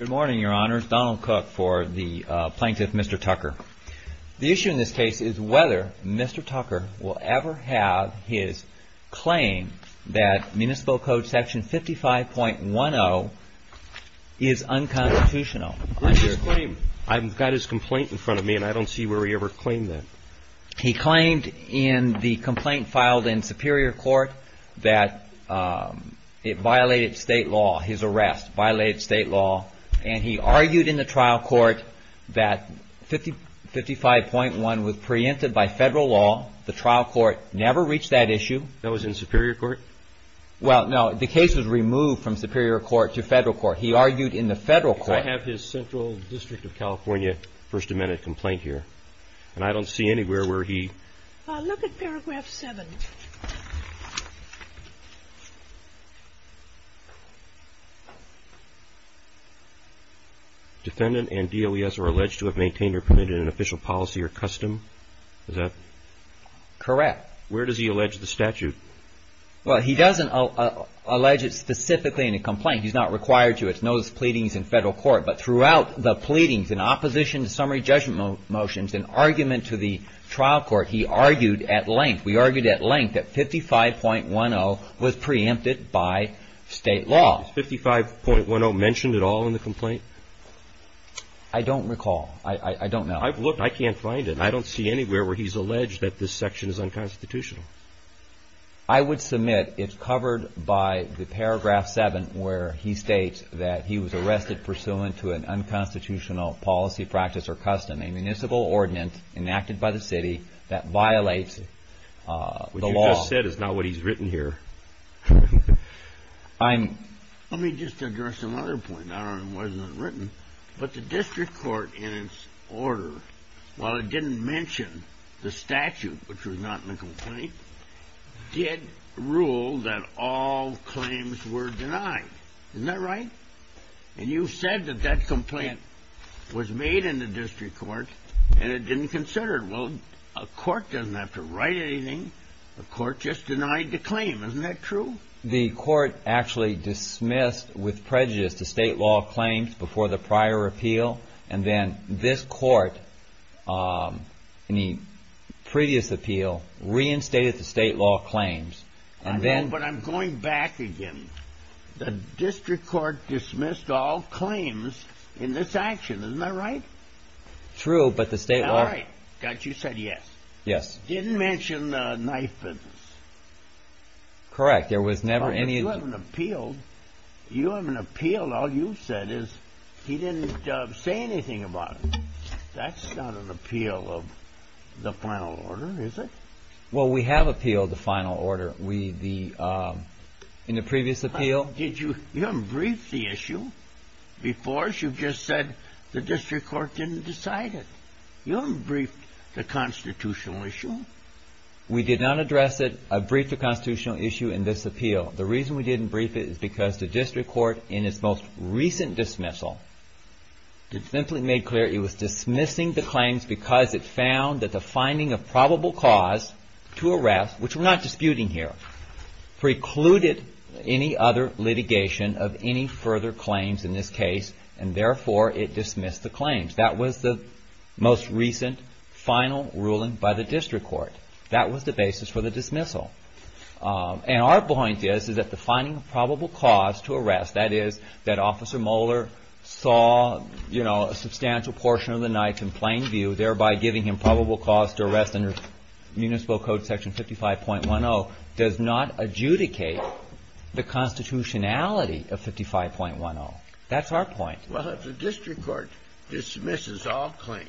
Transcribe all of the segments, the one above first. Good morning, Your Honor. It's Donald Cook for the plaintiff, Mr. Tucker. The issue in this case is whether Mr. Tucker will ever have his claim that Municipal Code Section 55.10 is unconstitutional. I've got his complaint in front of me, and I don't see where he ever claimed that. He claimed in the complaint filed in Superior Court that it violated state law, his arrest violated state law, and he argued in the trial court that 55.1 was preempted by federal law. The trial court never reached that issue. That was in Superior Court? Well, no. The case was removed from Superior Court to Federal Court. He argued in the Federal Court. I have his Central District of California First Amendment complaint here, and I don't see anywhere where he... Look at paragraph 7. Defendant and DOES are alleged to have maintained or permitted an official policy or custom. Is that... Correct. Where does he allege the statute? Well, he doesn't allege it specifically in a complaint. He's not required to. It's notice of pleadings in Federal Court. But throughout the pleadings, in opposition to summary judgment motions, in argument to the trial court, he argued at length, we argued at length, that 55.10 was preempted by state law. Has 55.10 mentioned at all in the complaint? I don't recall. I don't know. I've looked. I can't find it. I don't see anywhere where he's alleged that this section is unconstitutional. I would submit it's covered by the paragraph 7 where he states that he was arrested pursuant to an unconstitutional policy, practice, or custom, a municipal ordinance enacted by the city that violates the law. What you just said is not what he's written here. I'm... Let me just address another point. I don't know what he's written. But the district court in its order, while it didn't mention the statute, which was not in the complaint, did rule that all claims were denied. Isn't that right? And you said that that complaint was made in the district court and it didn't consider it. Well, a court doesn't have to write anything. The court just denied the claim. Isn't that true? The court actually dismissed with prejudice the state law claims before the prior appeal. And then this court, in the previous appeal, reinstated the state law claims. I know, but I'm going back again. The district court dismissed all claims in this action. Isn't that right? True, but the state law... All right. You said yes. Yes. Didn't mention the knife business. Correct. There was never any... You haven't appealed. All you've said is he didn't say anything about it. That's not an appeal of the final order, is it? Well, we have appealed the final order. In the previous appeal... You haven't briefed the issue before. You've just said the district court didn't decide it. You haven't briefed the constitutional issue. We did not address it. I briefed the constitutional issue in this appeal. The reason we didn't brief it is because the district court, in its most recent dismissal, simply made clear it was dismissing the claims because it found that the finding of probable cause to arrest, which we're not disputing here, precluded any other litigation of any further claims in this case, and therefore it dismissed the claims. That was the most recent final ruling by the district court. That was the basis for the dismissal. And our point is that the finding of probable cause to arrest, that is that Officer Moeller saw a substantial portion of the knife in plain view, thereby giving him probable cause to arrest under municipal code section 55.10, does not adjudicate the constitutionality of 55.10. That's our point. Well, the district court dismisses all claims.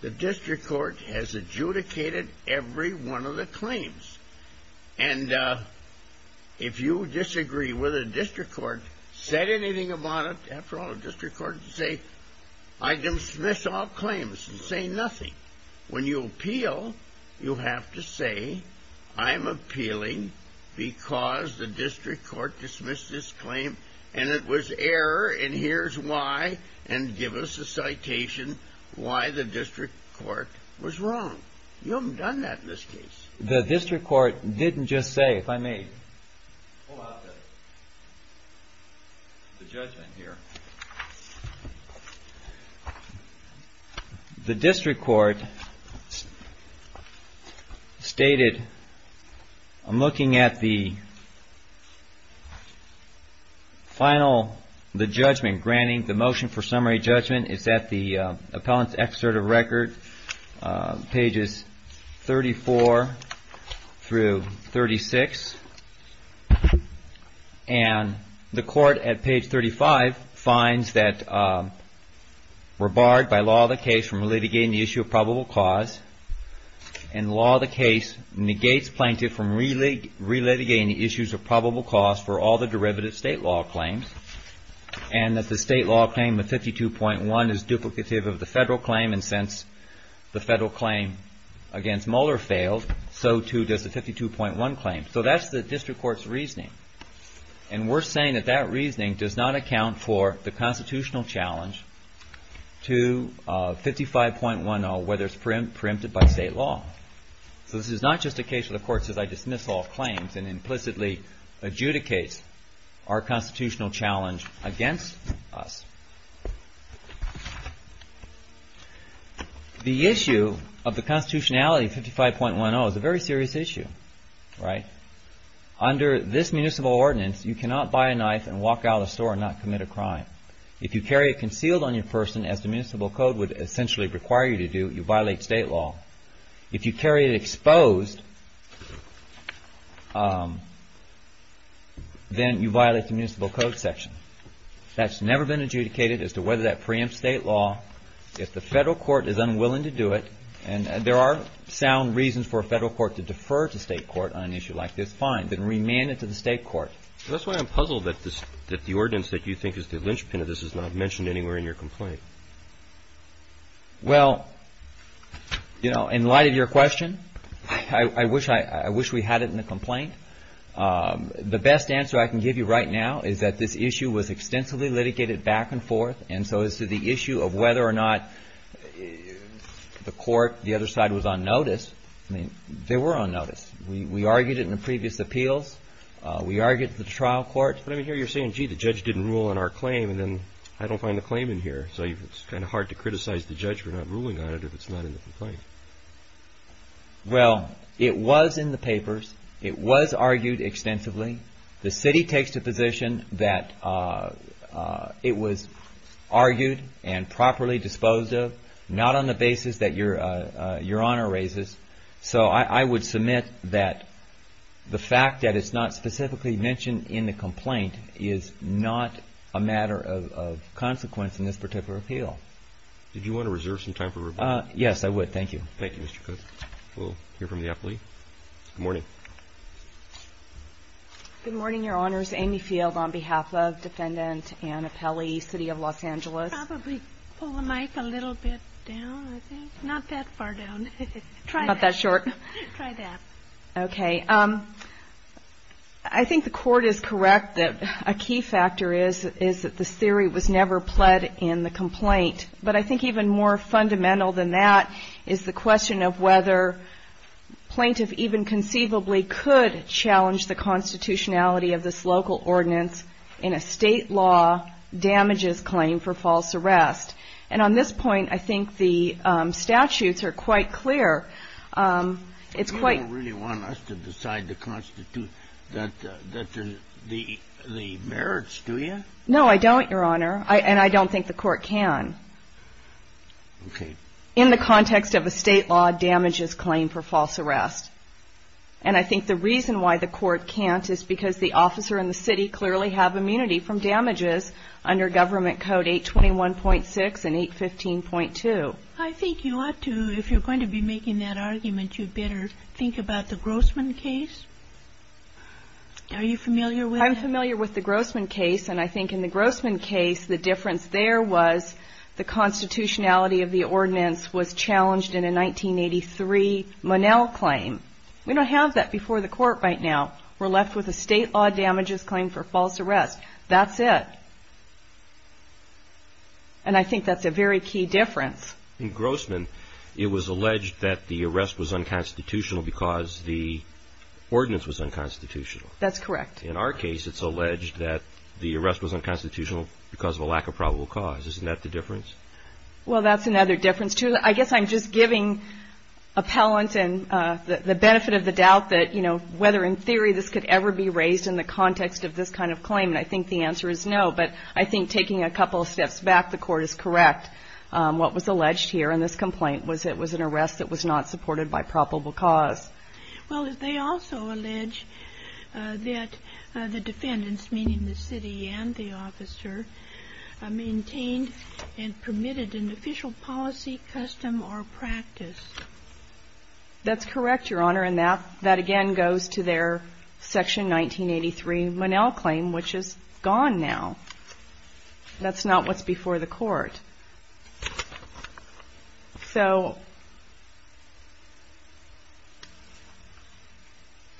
The district court has adjudicated every one of the claims. And if you disagree with the district court, said anything about it, after all, the district court can say, I dismiss all claims and say nothing. When you appeal, you have to say, I'm appealing because the district court dismissed this claim and it was error and here's why, and give us a citation why the district court was wrong. You haven't done that in this case. The district court didn't just say, if I may. Hold on a second. The judgment here. The district court stated, I'm looking at the final, the judgment granting, the motion for summary judgment is at the appellant's excerpt of record, pages 34 through 36. And the court at page 35 finds that we're barred by law of the case from litigating the issue of probable cause and law of the case negates plaintiff from relitigating the issues of probable cause for all the derivative state law claims. And that the state law claim of 52.1 is duplicative of the federal claim. And since the federal claim against Mueller failed, so too does the 52.1 claim. So that's the district court's reasoning. And we're saying that that reasoning does not account for the constitutional challenge to 55.10, whether it's preempted by state law. So this is not just a case where the court says, I dismiss all claims and implicitly adjudicates our constitutional challenge against us. The issue of the constitutionality of 55.10 is a very serious issue, right? Under this municipal ordinance, you cannot buy a knife and walk out of the store and not commit a crime. If you carry it concealed on your person, as the municipal code would essentially require you to do, you violate state law. If you carry it exposed, then you violate the municipal code section. That's never been adjudicated as to whether that preempts state law. If the federal court is unwilling to do it, and there are sound reasons for a federal court to defer to state court on an issue like this, fine. Then remand it to the state court. That's why I'm puzzled that the ordinance that you think is the linchpin of this is not mentioned anywhere in your complaint. Well, you know, in light of your question, I wish we had it in the complaint. The best answer I can give you right now is that this issue was extensively litigated back and forth. And so as to the issue of whether or not the court, the other side, was on notice, I mean, they were on notice. We argued it in the previous appeals. We argued the trial court. But I mean, here you're saying, gee, the judge didn't rule on our claim, and then I don't find the claim in here. So it's kind of hard to criticize the judge for not ruling on it if it's not in the complaint. Well, it was in the papers. It was argued extensively. The city takes the position that it was argued and properly disposed of, not on the basis that your Honor raises. So I would submit that the fact that it's not specifically mentioned in the complaint is not a matter of consequence in this particular appeal. Did you want to reserve some time for rebuttal? Yes, I would. Thank you. Thank you, Mr. Cook. We'll hear from the appellee. Good morning. Good morning, Your Honors. Amy Field on behalf of Defendant Anna Pelley, City of Los Angeles. Probably pull the mic a little bit down, I think. Not that far down. Not that short. Try that. Okay. I think the Court is correct that a key factor is that this theory was never pled in the complaint. But I think even more fundamental than that is the question of whether plaintiff even conceivably could challenge the constitutionality of this local ordinance in a state law damages claim for false arrest. And on this point, I think the statutes are quite clear. You don't really want us to decide the merits, do you? No, I don't, Your Honor. And I don't think the Court can. Okay. In the context of a state law damages claim for false arrest. And I think the reason why the Court can't is because the officer and the city clearly have immunity from damages under Government Code 821.6 and 815.2. I think you ought to, if you're going to be making that argument, you'd better think about the Grossman case. Are you familiar with it? I'm familiar with the Grossman case. And I think in the Grossman case, the difference there was the constitutionality of the ordinance was challenged in a 1983 Monell claim. We don't have that before the Court right now. We're left with a state law damages claim for false arrest. That's it. And I think that's a very key difference. In Grossman, it was alleged that the arrest was unconstitutional because the ordinance was unconstitutional. That's correct. In our case, it's alleged that the arrest was unconstitutional because of a lack of probable cause. Isn't that the difference? Well, that's another difference, too. I guess I'm just giving appellant and the benefit of the doubt that, you know, whether in theory this could ever be raised in the context of this kind of claim. And I think the answer is no. But I think taking a couple of steps back, the Court is correct. What was alleged here in this complaint was it was an arrest that was not supported by probable cause. Well, they also allege that the defendants, meaning the city and the officer, maintained and permitted an official policy, custom, or practice. That's correct, Your Honor. And that again goes to their Section 1983 Monell claim, which is gone now. That's not what's before the Court. So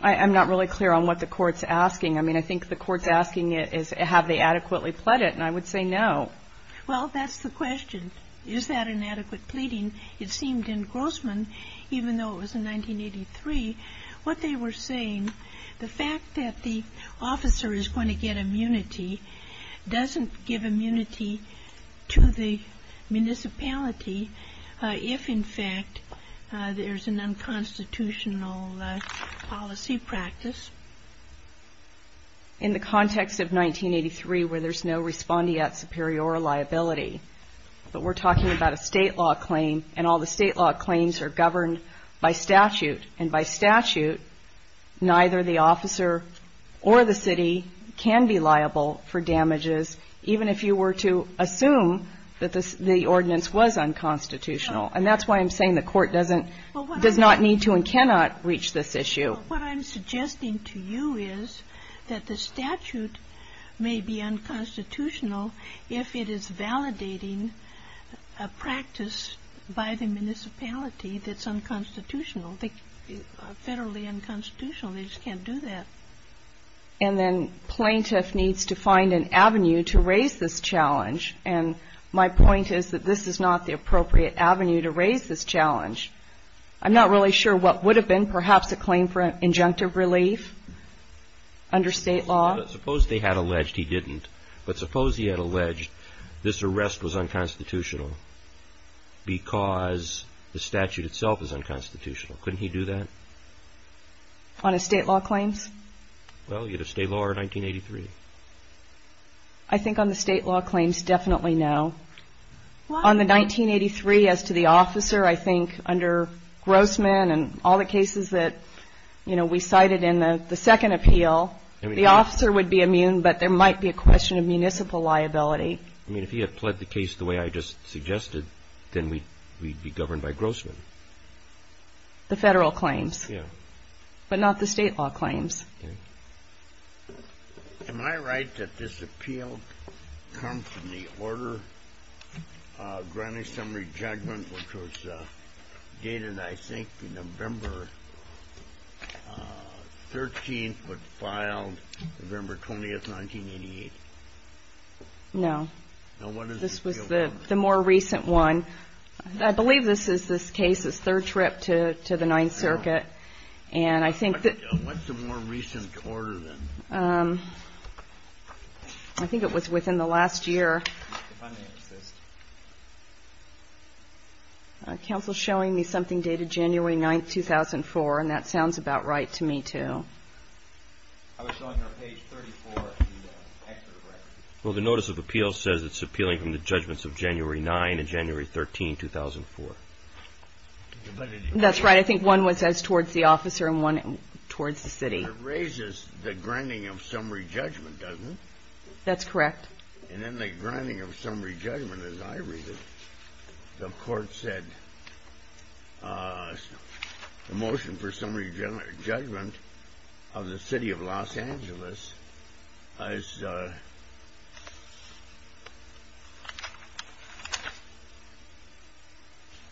I'm not really clear on what the Court's asking. I mean, I think the Court's asking it is have they adequately pled it, and I would say no. Well, that's the question. Is that an adequate pleading? Well, I think the Court's asking, it seemed in Grossman, even though it was in 1983, what they were saying, the fact that the officer is going to get immunity doesn't give immunity to the municipality if, in fact, there's an unconstitutional policy practice. In the context of 1983, where there's no respondeat superior liability, but we're talking about a State law claim, and all the State law claims are governed by statute. And by statute, neither the officer or the city can be liable for damages, even if you were to assume that the ordinance was unconstitutional. And that's why I'm saying the Court doesn't need to and cannot reach this issue. But what I'm suggesting to you is that the statute may be unconstitutional if it is validating a practice by the municipality that's unconstitutional, federally unconstitutional. They just can't do that. And then plaintiff needs to find an avenue to raise this challenge, and my point is that this is not the appropriate avenue to raise this challenge. I'm not really sure what would have been perhaps a claim for injunctive relief under State law. Suppose they had alleged he didn't. But suppose he had alleged this arrest was unconstitutional because the statute itself is unconstitutional. Couldn't he do that? On his State law claims? Well, either State law or 1983. I think on the State law claims, definitely no. On the 1983 as to the officer, I think under Grossman and all the cases that, you know, we cited in the second appeal, the officer would be immune, but there might be a question of municipal liability. I mean, if he had pled the case the way I just suggested, then we'd be governed by Grossman. The federal claims. Yeah. But not the State law claims. Am I right that this appeal comes from the order of granting summary judgment, which was dated, I think, November 13th, but filed November 20th, 1988? No. This was the more recent one. I believe this is this case's third trip to the Ninth Circuit. What's the more recent order, then? I think it was within the last year. If I may insist. Counsel is showing me something dated January 9th, 2004, and that sounds about right to me, too. I was showing her page 34 of the exert record. Well, the notice of appeal says it's appealing from the judgments of January 9 and January 13, 2004. That's right. I think one says towards the officer and one towards the city. It raises the granting of summary judgment, doesn't it? That's correct. And then the granting of summary judgment, as I read it, the court said the motion for summary judgment of the city of Los Angeles is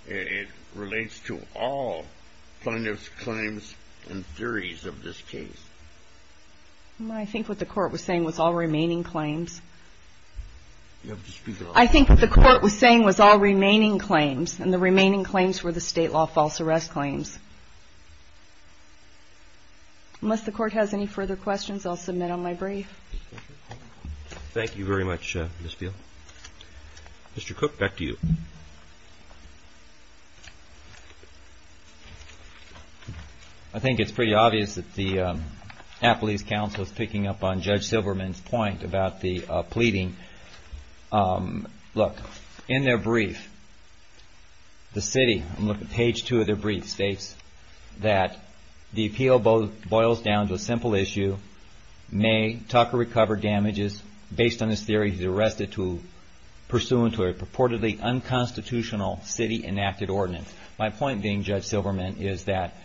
it relates to all plaintiff's claims and theories of this case. I think what the court was saying was all remaining claims. You have to speak louder. I think what the court was saying was all remaining claims, and the remaining claims were the state law false arrest claims. Unless the court has any further questions, I'll submit on my brief. Thank you very much, Ms. Field. Mr. Cook, back to you. I think it's pretty obvious that the Appalachian Council is picking up on Judge Silverman's point about the pleading. Look, in their brief, the city, page two of their brief states that the appeal boils down to a simple issue. May Tucker recover damages based on his theory he was arrested to, pursuant to a purportedly unconstitutional city enacted ordinance. My point being, Judge Silverman, is that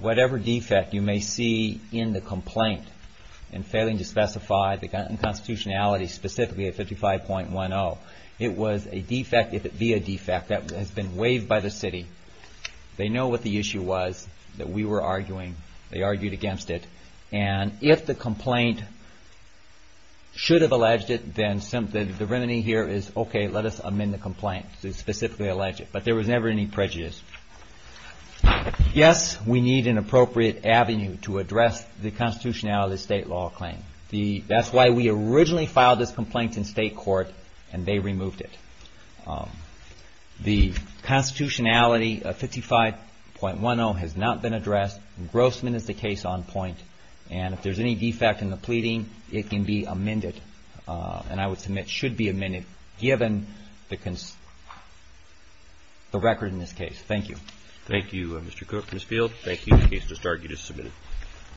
whatever defect you may see in the complaint in failing to specify the unconstitutionality specifically at 55.10, it was a defect, if it be a defect, that has been waived by the city. They know what the issue was that we were arguing. They argued against it. If the complaint should have alleged it, then the remedy here is, okay, let us amend the complaint to specifically allege it. But there was never any prejudice. Yes, we need an appropriate avenue to address the constitutionality of the state law claim. That's why we originally filed this complaint in state court, and they removed it. The constitutionality of 55.10 has not been addressed. Engrossment is the case on point. And if there's any defect in the pleading, it can be amended, and I would submit should be amended given the record in this case. Thank you. Thank you, Mr. Cook, Ms. Field. Thank you. The case is discharged. It is submitted.